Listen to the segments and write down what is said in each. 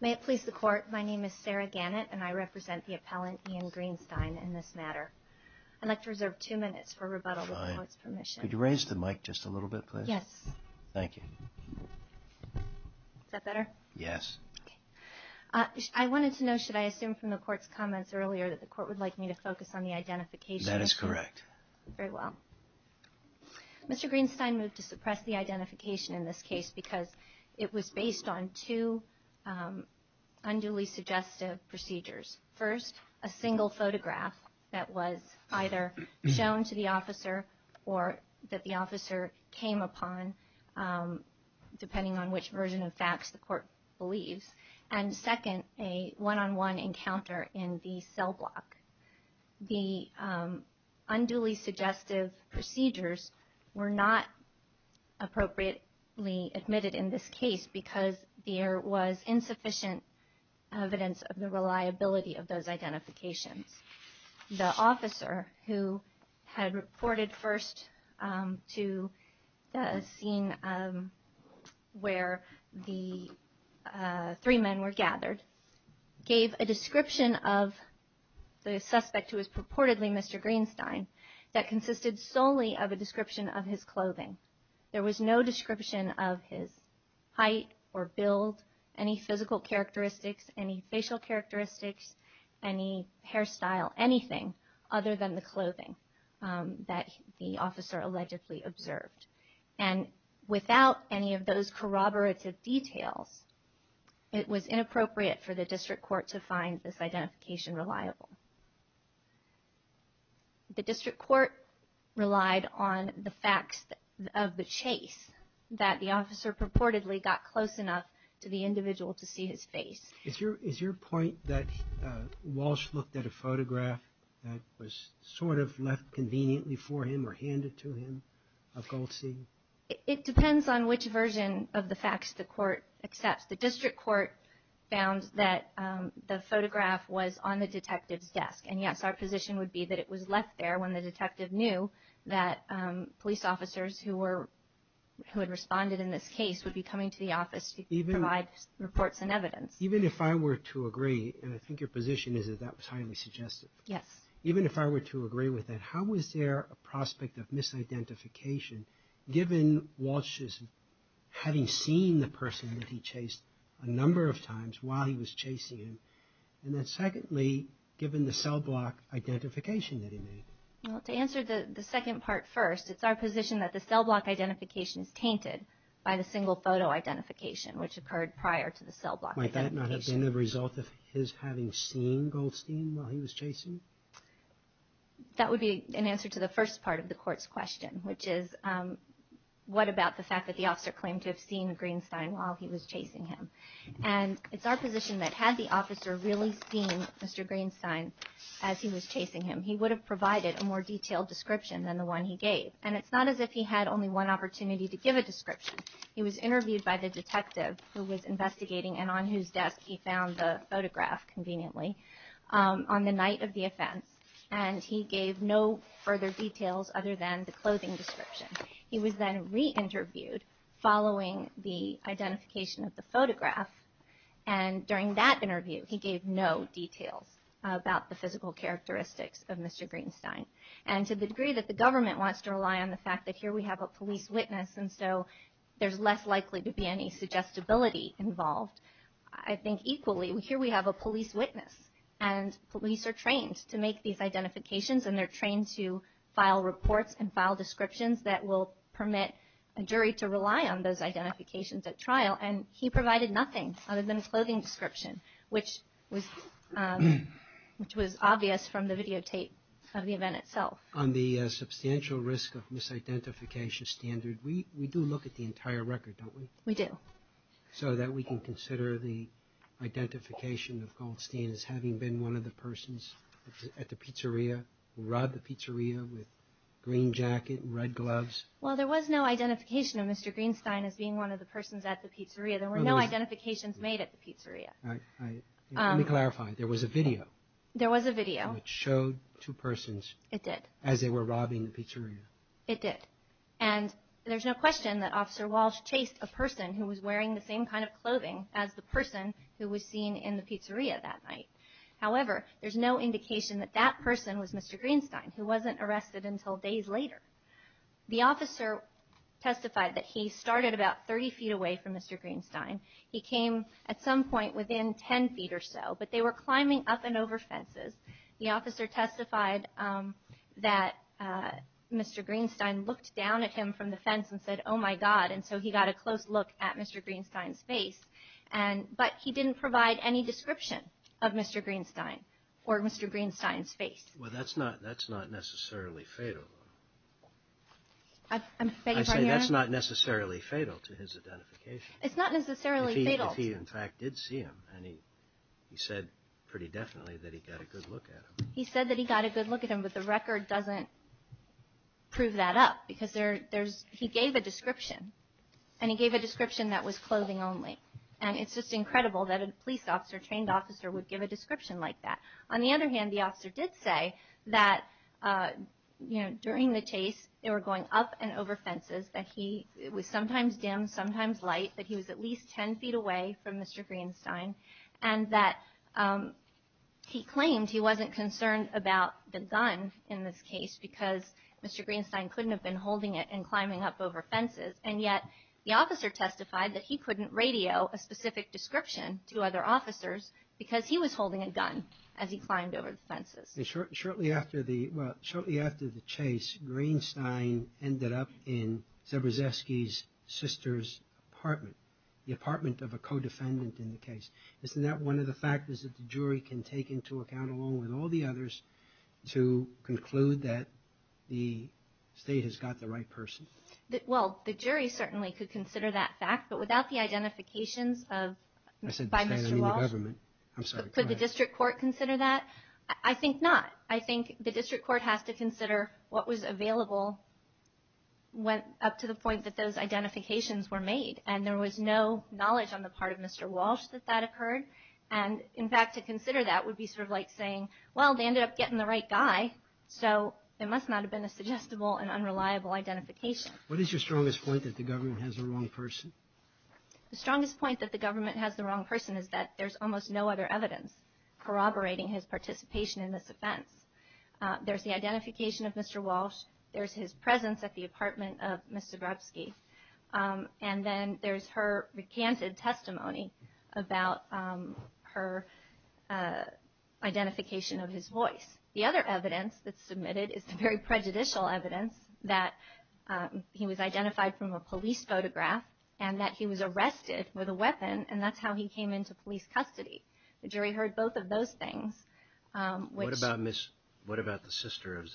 May it please the court, my name is Sarah Gannett and I represent the appellant Ian Greenstein in this matter. I'd like to reserve two minutes for rebuttal without his permission. Could you raise the mic just a little bit please? Yes. Thank you. Is that better? Yes. I wanted to know should I assume from the court's comments earlier that the court would like me to focus on the identification? That is correct. Very well. Mr. Greenstein moved to suppress the identification in this case because it was based on two unduly suggestive procedures. First, a single photograph that was either shown to the officer or that the officer came upon depending on which version of facts the court believes. And second, a appropriately admitted in this case because there was insufficient evidence of the reliability of those identifications. The officer who had reported first to the scene where the three men were gathered gave a description of the suspect who was purportedly Mr. Greenstein that consisted solely of a description of his clothing. There was no description of his height or build, any physical characteristics, any facial characteristics, any hairstyle, anything other than the clothing that the officer allegedly observed. And without any of those corroborative details, it was inappropriate for the district court to find this identification unreliable. The district court relied on the facts of the chase that the officer purportedly got close enough to the individual to see his face. Is your point that Walsh looked at a photograph that was sort of left conveniently for him or handed to him of Goldstein? It depends on which version of the facts the court accepts. The district court found that the photograph was on the detective's desk. And yes, our position would be that it was left there when the detective knew that police officers who had responded in this case would be coming to the office to provide reports and evidence. Even if I were to agree, and I think your position is that that was highly suggestive. Yes. Even if I were to agree with that, how was there a prospect of misidentification given Walsh's having seen the person that he chased a number of times while he was chasing him? And then secondly, given the cellblock identification that he made? Well, to answer the second part first, it's our position that the cellblock identification is tainted by the single photo identification, which occurred prior to the cellblock identification. Might that not have been a result of his having seen Goldstein while he was chasing? That would be an answer to the first part of the court's question, which is what about the fact that the officer claimed to have seen Greenstein while he was chasing him? If the officer really seen Mr. Greenstein as he was chasing him, he would have provided a more detailed description than the one he gave. And it's not as if he had only one opportunity to give a description. He was interviewed by the detective who was investigating and on whose desk he found the photograph conveniently on the night of the offense. And he gave no further details other than the clothing description. He was then re-interviewed following the identification of the photograph. And during that interview, he gave no details about the physical characteristics of Mr. Greenstein. And to the degree that the government wants to rely on the fact that here we have a police witness and so there's less likely to be any suggestibility involved, I think equally here we have a police witness. And police are trained to make these identifications and they're trained to file reports and file descriptions that will permit a jury to rely on those identifications at trial. And he provided nothing other than a clothing description, which was obvious from the videotape of the event itself. On the substantial risk of misidentification standard, we do look at the entire record, don't we? We do. So that we can consider the identification of Goldstein as having been one of the persons at the pizzeria who robbed the pizzeria with green jacket and red gloves? Well, there was no identification of Mr. Greenstein as being one of the persons at the pizzeria. There were no identifications made at the pizzeria. Let me clarify. There was a video. There was a video. It showed two persons. It did. As they were robbing the pizzeria. It did. And there's no question that Officer Walsh chased a person who was wearing the same kind of clothing as the person who was seen in the pizzeria that night. However, there's no indication that that testified that he started about 30 feet away from Mr. Greenstein. He came at some point within 10 feet or so, but they were climbing up and over fences. The officer testified that Mr. Greenstein looked down at him from the fence and said, Oh my God. And so he got a close look at Mr. Greenstein's face. And, but he didn't provide any description of Mr. Greenstein or Mr. Greenstein's face. Well, that's not, that's not necessarily fatal. I'm saying that's not necessarily fatal to his identification. It's not necessarily fatal. If he in fact did see him and he, he said pretty definitely that he got a good look at him. He said that he got a good look at him, but the record doesn't prove that up because there, there's, he gave a description and he gave a description that was clothing only. And it's just incredible that a police officer, trained officer would give a description like that. On the other hand, the officer did say that, uh, you know, during the chase, they were going up and over fences that he was sometimes dim, sometimes light, but he was at least 10 feet away from Mr. Greenstein. And that, um, he claimed he wasn't concerned about the gun in this case because Mr. Greenstein couldn't have been holding it and climbing up over fences. And yet the officer testified that he couldn't radio a specific description to other officers because he was holding a gun as he climbed over the fences. And shortly after the, well, shortly after the chase, Greenstein ended up in Zebrzewski's sister's apartment, the apartment of a co-defendant in the case. Isn't that one of the factors that the jury can take into account along with all the others to conclude that the state has got the right person? Well, the jury certainly could consider that fact, but without the identification by Mr. Walsh. Could the district court consider that? I think not. I think the district court has to consider what was available up to the point that those identifications were made. And there was no knowledge on the part of Mr. Walsh that that occurred. And in fact, to consider that would be sort of like saying, well, they ended up getting the right guy, so there must not have been a suggestible and unreliable identification. What is your strongest point that the government has the wrong person? The strongest point that the government has the wrong person is that there's almost no other evidence corroborating his participation in this offense. There's the identification of Mr. Walsh. There's his presence at the apartment of Mr. Zebrzewski. And then there's her recanted testimony about her identification of his voice. The other evidence that's submitted is the very prejudicial evidence that he was identified from a police photograph and that he was arrested with a weapon, and that's how he came into police custody. The jury heard both of those things. What about the sister of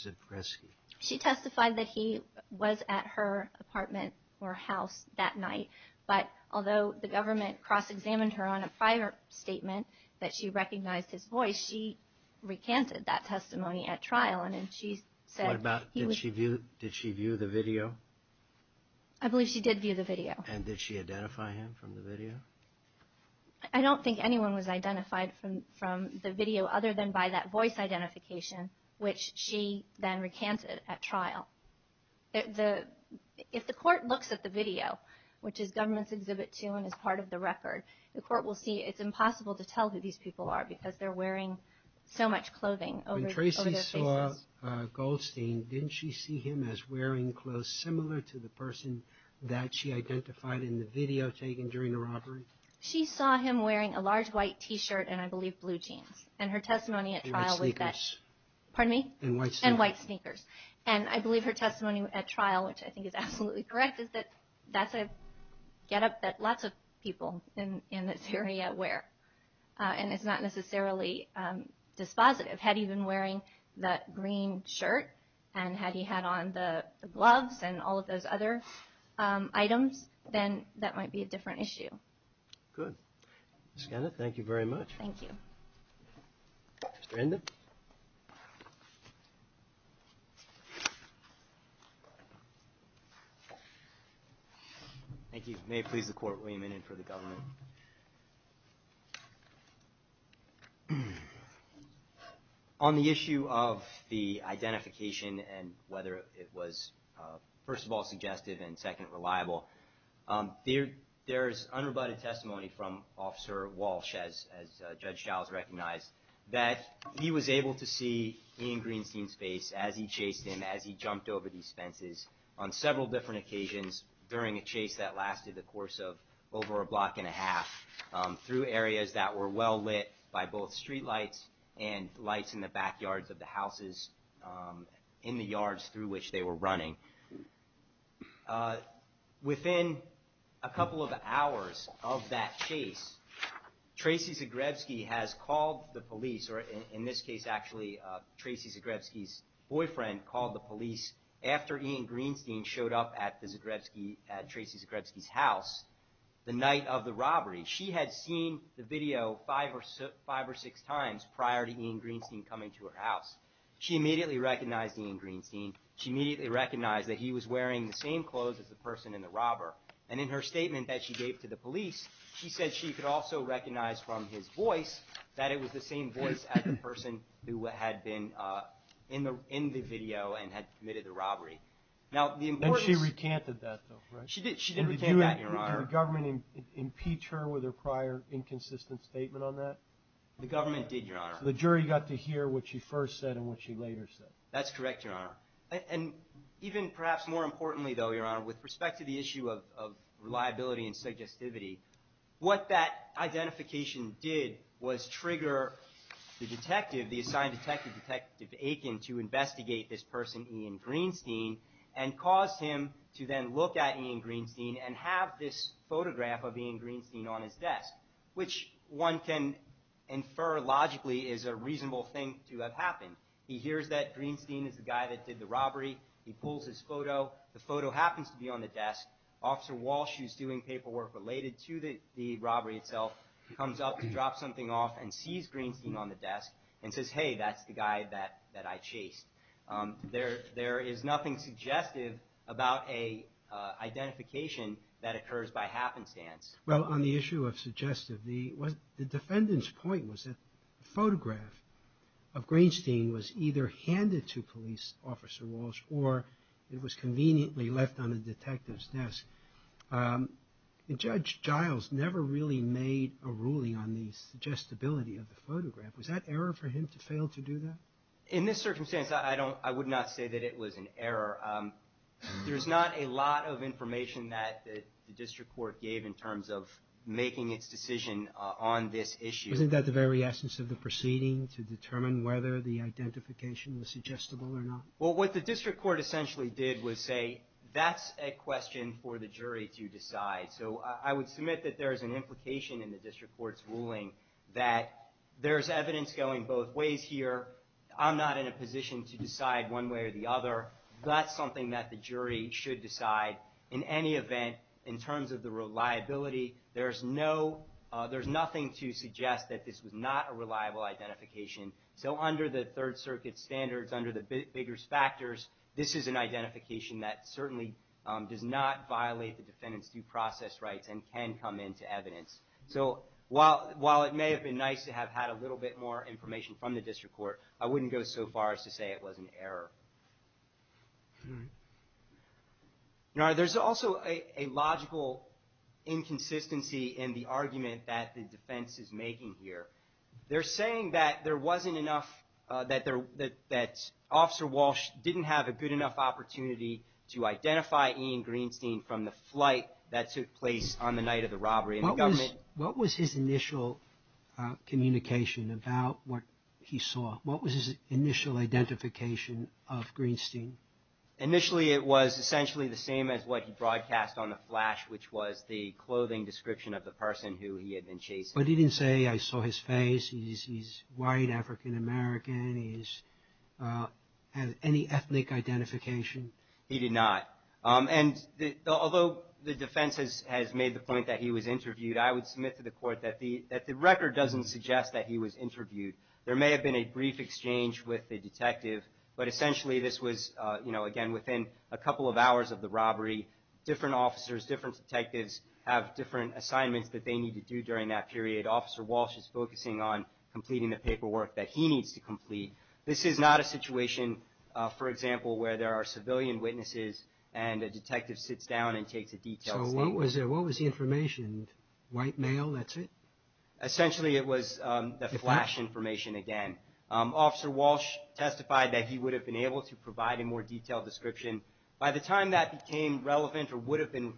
Zebrzewski? She testified that he was at her apartment or house that night, but although the government cross-examined her on a prior statement that she recognized his voice, she recanted that testimony at trial. And then she said... What about, did she view the video? I believe she did view the video. And did she identify him from the video? I don't think anyone was identified from the video other than by that voice identification, which she then recanted at trial. If the court looks at the video, which is Government's Exhibit 2 and is part of the record, the court will see it's impossible to tell who these people are because they're wearing so much clothing over their faces. When Tracy saw Goldstein, didn't she see him as wearing clothes similar to the person that she identified in the video taken during the robbery? She saw him wearing a large white t-shirt and, I believe, blue jeans. And her testimony at trial was that... And white sneakers. Pardon me? And white sneakers. And I believe her testimony at trial, which I think is absolutely correct, is that that's a get-up that lots of people in this area wear. And it's not necessarily dispositive. Had he been wearing that green shirt and had he had on the gloves and all of those other items, then that might be a different issue. Good. Ms. Gannett, thank you very much. Thank you. Mr. Enda? Thank you. May it please the Court, William Innan for the Government. On the issue of the identification and whether it was, first of all, suggestive and second, reliable, there's unrebutted testimony from Officer Walsh, as Judge Shiles recognized, that he was able to see Ian Greenstein's face as he chased him, as he jumped over these fences on several different occasions during a chase that lasted the course of over a block and a half through areas that were well lit by both street lights and lights in the backyards of the houses and in the yards through which they were running. Within a couple of hours of that chase, Tracey Zagrebski has called the police, or in this case actually, Tracey Zagrebski's boyfriend called the police after Ian Greenstein showed up at Tracey Zagrebski's house the night of the robbery. She had seen the video five or six times prior to Greenstein coming to her house. She immediately recognized Ian Greenstein. She immediately recognized that he was wearing the same clothes as the person in the robber. And in her statement that she gave to the police, she said she could also recognize from his voice that it was the same voice as the person who had been in the video and had committed the robbery. And she recanted that though, right? She did. She recanted that, Your Honor. Did the government impeach her with her prior inconsistent statement on that? The government did, Your Honor. The jury got to hear what she first said and what she later said. That's correct, Your Honor. And even perhaps more importantly though, Your Honor, with respect to the issue of reliability and suggestivity, what that identification did was trigger the detective, the assigned detective, Detective Aiken, to investigate this person, Ian Greenstein, and caused him to then look at Ian Greenstein and have this photograph of Ian Greenstein on his desk, which one can infer logically is a reasonable thing to have happened. He hears that Greenstein is the guy that did the robbery. He pulls his photo. The photo happens to be on the desk. Officer Walsh, who's doing paperwork related to the robbery itself, comes up to drop something off and sees Greenstein on the desk and says, hey, that's the guy that I chased. There is nothing suggestive about an identification that occurs by happenstance. Well, on the issue of suggestivity, the defendant's point was that the photograph of Greenstein was either handed to Police Officer Walsh or it was conveniently left on a detective's desk. Judge Giles never really made a ruling on the suggestibility of the photograph. Was that error for him to fail to do that? In this circumstance, I would not say that it was an error. There was a lot of information that the District Court gave in terms of making its decision on this issue. Wasn't that the very essence of the proceeding, to determine whether the identification was suggestible or not? Well, what the District Court essentially did was say, that's a question for the jury to decide. So I would submit that there's an implication in the District Court's ruling that there's evidence going both ways here. I'm not in a position to decide one way or the other. That's something that the jury should decide. In any event, in terms of the reliability, there's nothing to suggest that this was not a reliable identification. So under the Third Circuit standards, under the biggest factors, this is an identification that certainly does not violate the defendant's due process rights and can come into evidence. So while it may have been nice to have had a little bit more information from the District Court, I would not say it was an error. Now, there's also a logical inconsistency in the argument that the defense is making here. They're saying that there wasn't enough, that Officer Walsh didn't have a good enough opportunity to identify Ian Greenstein from the flight that took place on the night of the robbery. What was his initial communication about what he saw? What was initial identification of Greenstein? Initially, it was essentially the same as what he broadcast on the flash, which was the clothing description of the person who he had been chasing. But he didn't say, I saw his face, he's white, African-American, he has any ethnic identification? He did not. And although the defense has made the point that he was interviewed, I would submit to the court that the record doesn't suggest that he was interviewed. There may have been a brief exchange with the detective, but essentially this was, you know, again within a couple of hours of the robbery, different officers, different detectives have different assignments that they need to do during that period. Officer Walsh is focusing on completing the paperwork that he needs to complete. This is not a situation, for example, where there are civilian witnesses and a detective sits down and takes a detailed statement. So what was the information? White male, that's it? Essentially, it was the flash information again. Officer Walsh testified that he would have been able to provide a more detailed description. By the time that became relevant or would have been,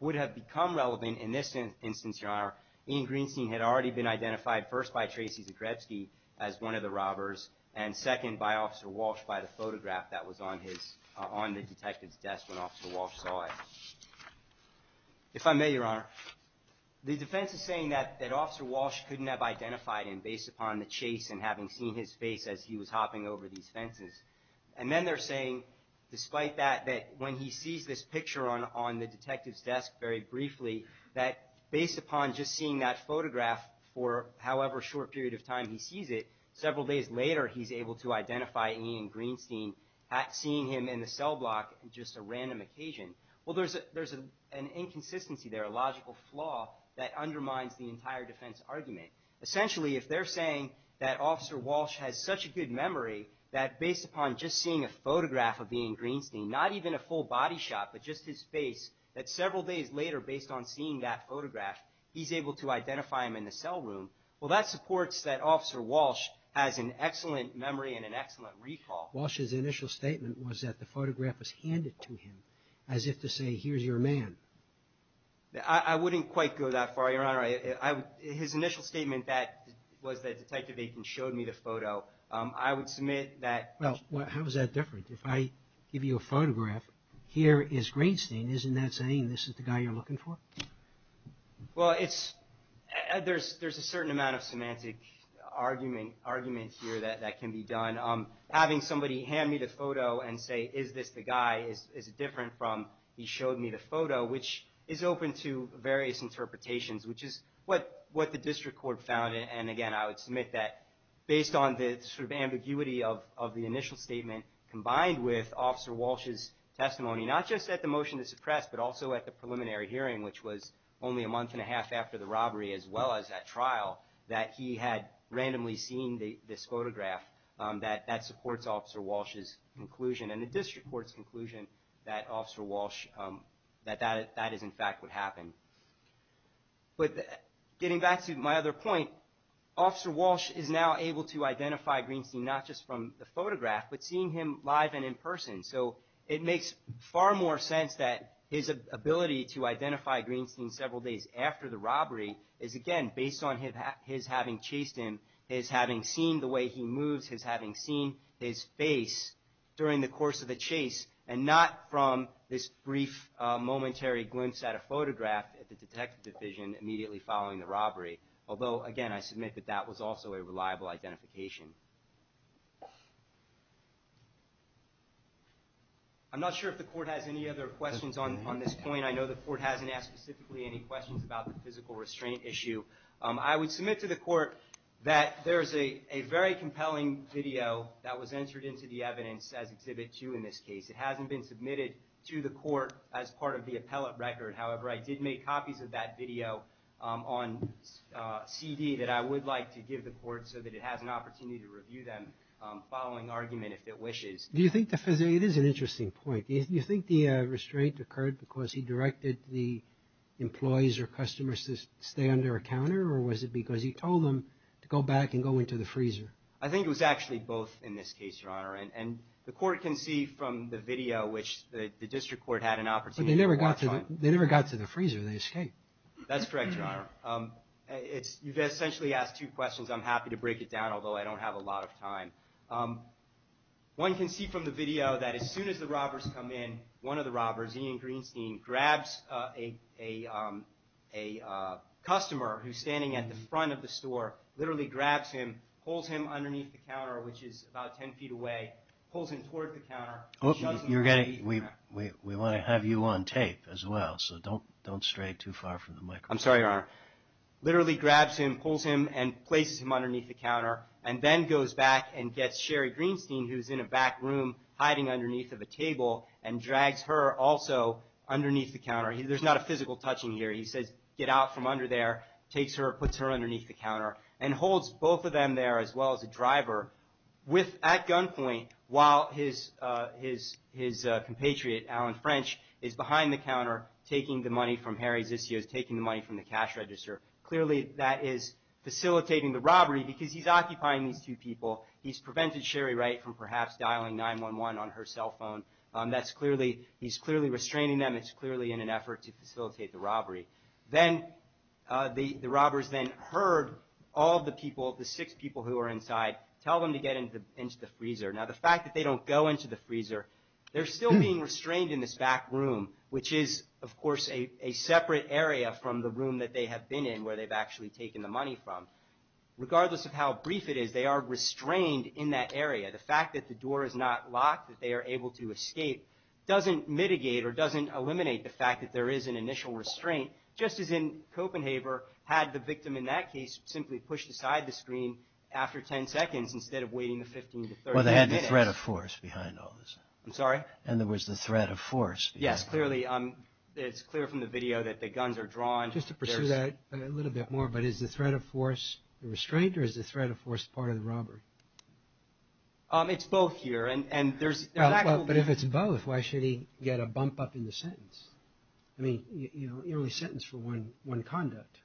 would have become relevant in this instance, your honor, Ian Greenstein had already been identified first by Tracy Zagrebski as one of the robbers, and second by Officer Walsh by the photograph that was on his, on the detective's desk when Officer Walsh saw it. If I may, your honor, the defense is saying that Officer Walsh couldn't have identified him based upon the chase and having seen his face as he was hopping over these fences. And then they're saying, despite that, that when he sees this picture on the detective's desk very briefly, that based upon just seeing that photograph for however short period of time he sees it, several days later he's able to identify Ian Greenstein at seeing him in the cell block at just a random occasion. Well, there's an inconsistency there, a logical flaw that undermines the entire defense argument. Essentially, if they're saying that Officer Walsh has such a good memory that based upon just seeing a photograph of Ian Greenstein, not even a full body shot, but just his face, that several days later based on seeing that photograph, he's able to identify him in the cell room. Well, that supports that Officer Walsh has an excellent memory and an excellent recall. Walsh's initial statement was that the I wouldn't quite go that far, Your Honor. His initial statement was that Detective Aitken showed me the photo. I would submit that... Well, how is that different? If I give you a photograph, here is Greenstein. Isn't that saying this is the guy you're looking for? Well, there's a certain amount of semantic argument here that can be done. Having somebody hand me the photo and say, is this the guy? Is it different from he showed me the photo, which is open to various interpretations, which is what the district court found. And again, I would submit that based on the ambiguity of the initial statement combined with Officer Walsh's testimony, not just at the motion to suppress, but also at the preliminary hearing, which was only a month and a half after the robbery, as well as that trial, that he had randomly seen this photograph, that supports Officer Walsh's conclusion. And the district court's conclusion that Officer Walsh, that that is in fact what happened. But getting back to my other point, Officer Walsh is now able to identify Greenstein, not just from the photograph, but seeing him live and in person. So it makes far more sense that his ability to identify Greenstein several days after the robbery is, again, based on his having chased him, his having seen the way he moves, his having seen his face during the course of the chase, and not from this brief momentary glimpse at a photograph at the detective division immediately following the robbery. Although, again, I submit that that was also a reliable identification. I'm not sure if the court has any other questions on this point. I know the court hasn't asked specifically any questions about the physical restraint issue. I would submit to the court that there is a very compelling video that was entered into the evidence as Exhibit 2 in this case. It hasn't been submitted to the court as part of the appellate record. However, I did make copies of that video on CD that I would like to give the court so that it has an opportunity to review them following argument, if it wishes. Do you think the, it is an interesting point. You think the restraint occurred because he directed the employees or customers to stay under a counter, or was it because he told them to go back and go into the freezer? I think it was actually both in this case, Your Honor. And the court can see from the video, which the district court had an opportunity to watch on. They never got to the freezer. They escaped. That's correct, Your Honor. You've essentially asked two questions. I'm happy to break it down, although I don't have a lot of time. One can see from the video that as soon as the robbers come in, one of the robbers, Ian Greenstein, grabs a customer who's standing at the front of the store, literally grabs him, pulls him underneath the counter, which is about 10 feet away, pulls him toward the counter. We want to have you on tape as well, so don't stray too far from the microphone. I'm sorry, Your Honor. Literally grabs him, pulls him, and places him underneath the counter, and then goes back and gets Sherry Greenstein, who's in a back room hiding underneath of a table, and drags her also underneath the counter. There's not a physical touching here. He says, get out from under there, takes her, puts her underneath the counter, and holds both of them there as well as a driver at gunpoint while his compatriot, Alan French, is behind the counter taking the money from Harry Zissio's, taking the money from the cash register. Clearly, that is facilitating the robbery because he's occupying these two people. He's prevented Sherry from perhaps dialing 911 on her cell phone. He's clearly restraining them. It's clearly in an effort to facilitate the robbery. Then, the robbers then heard all of the people, the six people who were inside, tell them to get into the freezer. Now, the fact that they don't go into the freezer, they're still being restrained in this back room, which is, of course, a separate area from the room that they have been in where they've actually taken the money from. Regardless of how restrained in that area, the fact that the door is not locked, that they are able to escape, doesn't mitigate or doesn't eliminate the fact that there is an initial restraint, just as in Copenhaver had the victim in that case simply pushed aside the screen after 10 seconds instead of waiting the 15 to 30 minutes. Well, they had the threat of force behind all this. I'm sorry? In other words, the threat of force. Yes, clearly. It's clear from the video that the guns are drawn. Just to pursue that a little bit more, but is the threat of force the restraint or is the threat of force part of the robbery? It's both here. But if it's both, why should he get a bump up in the sentence? I mean, you're only sentenced for one conduct.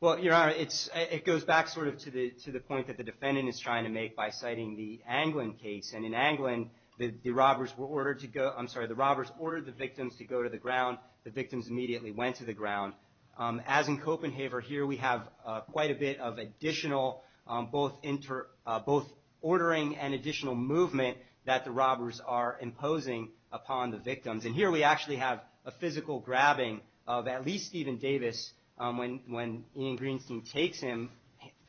Well, Your Honor, it goes back sort of to the point that the defendant is trying to make by citing the Anglin case. And in Anglin, the robbers ordered the victims to go to the ground. The both ordering and additional movement that the robbers are imposing upon the victims. And here, we actually have a physical grabbing of at least Stephen Davis when Ian Greenstein takes him,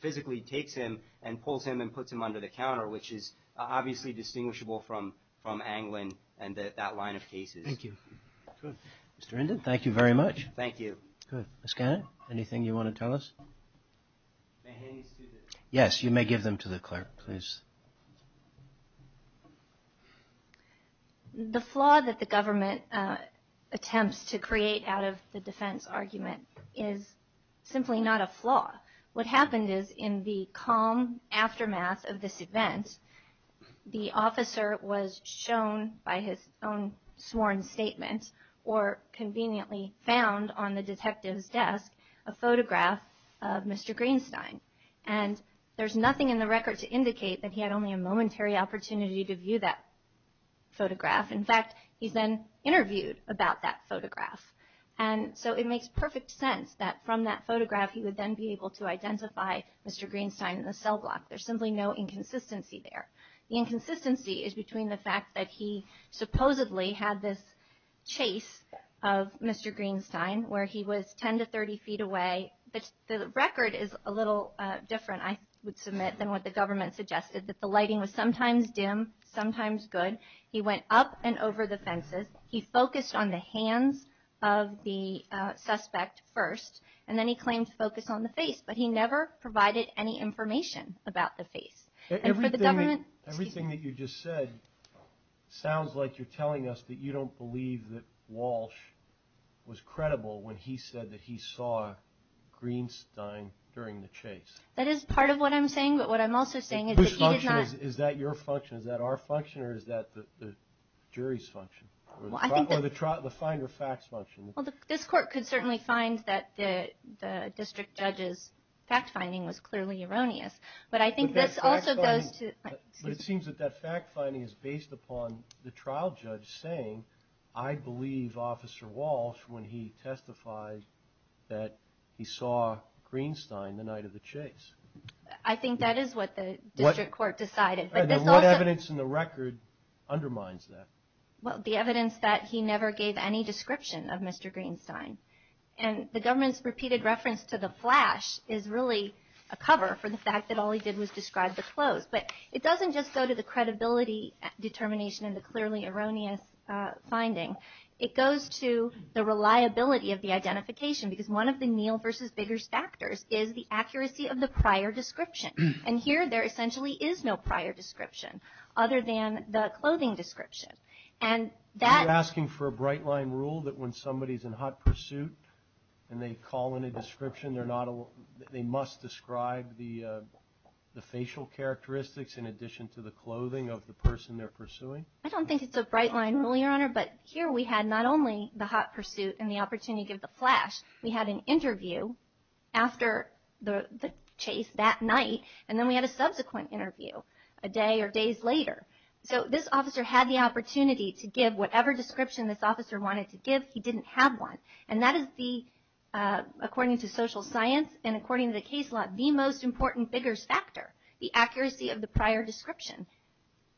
physically takes him and pulls him and puts him under the counter, which is obviously distinguishable from Anglin and that line of cases. Thank you. Mr. Inden, thank you very much. Thank you. Good. Ms. Cannon, anything you want to tell us? Yes, you may give them to the clerk, please. The flaw that the government attempts to create out of the defense argument is simply not a flaw. What happened is in the calm aftermath of this event, the officer was shown by his own sworn statements or conveniently found on the detective's desk a photograph of Mr. Greenstein. And there's nothing in the record to indicate that he had only a momentary opportunity to view that photograph. In fact, he's been interviewed about that photograph. And so it makes perfect sense that from that photograph, he would then be able to identify Mr. Greenstein in the cell block. There's simply no inconsistency there. The inconsistency is between the fact that he supposedly had this chase of Mr. Greenstein, where he was 10 to 30 feet away. The record is a little different, I would submit, than what the government suggested, that the lighting was sometimes dim, sometimes good. He went up and over the fences. He focused on the hands of the suspect first, and then he claimed to focus on the face. But he never provided any information about the face. Everything that you just said sounds like you're telling us that you don't believe that Walsh was credible when he said that he saw Greenstein during the chase. That is part of what I'm saying. But what I'm also saying is that he did not... Whose function is that? Is that your function? Is that our function? Or is that the jury's function? Or the finder of facts function? Well, this court could certainly find that the district judge's fact-finding was clearly erroneous. But I think this also goes to... But it seems that that fact-finding is based upon the trial judge saying, I believe Officer Walsh when he testified that he saw Greenstein the night of the chase. I think that is what the district court decided. What evidence in the record undermines that? Well, the evidence that he never gave any description of Mr. Greenstein. And the government's repeated reference to the flash is really a cover for the fact that all go to the credibility determination and the clearly erroneous finding. It goes to the reliability of the identification. Because one of the Neal versus Biggers factors is the accuracy of the prior description. And here, there essentially is no prior description other than the clothing description. And that... Are you asking for a bright line rule that when somebody's in hot pursuit and they call in a description, they must describe the facial characteristics in addition to the clothing of the person they're pursuing? I don't think it's a bright line rule, Your Honor. But here we had not only the hot pursuit and the opportunity to give the flash. We had an interview after the chase that night. And then we had a subsequent interview a day or days later. So this officer had the opportunity to give whatever description this officer wanted to give. He didn't have one. And that is the, according to social science and the case law, the most important Biggers factor, the accuracy of the prior description.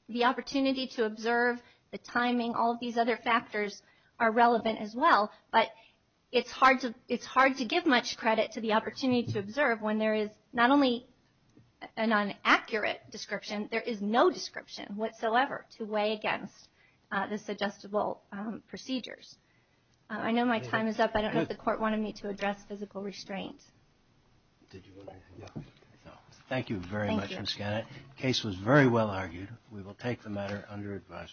The opportunity to observe, the timing, all of these other factors are relevant as well. But it's hard to give much credit to the opportunity to observe when there is not only an inaccurate description. There is no description whatsoever to weigh against this adjustable procedures. I know my time is up. I don't know if the court wanted me to address physical restraints. Thank you very much, Ms. Gannett. The case was very well argued. We will take the matter under advisement.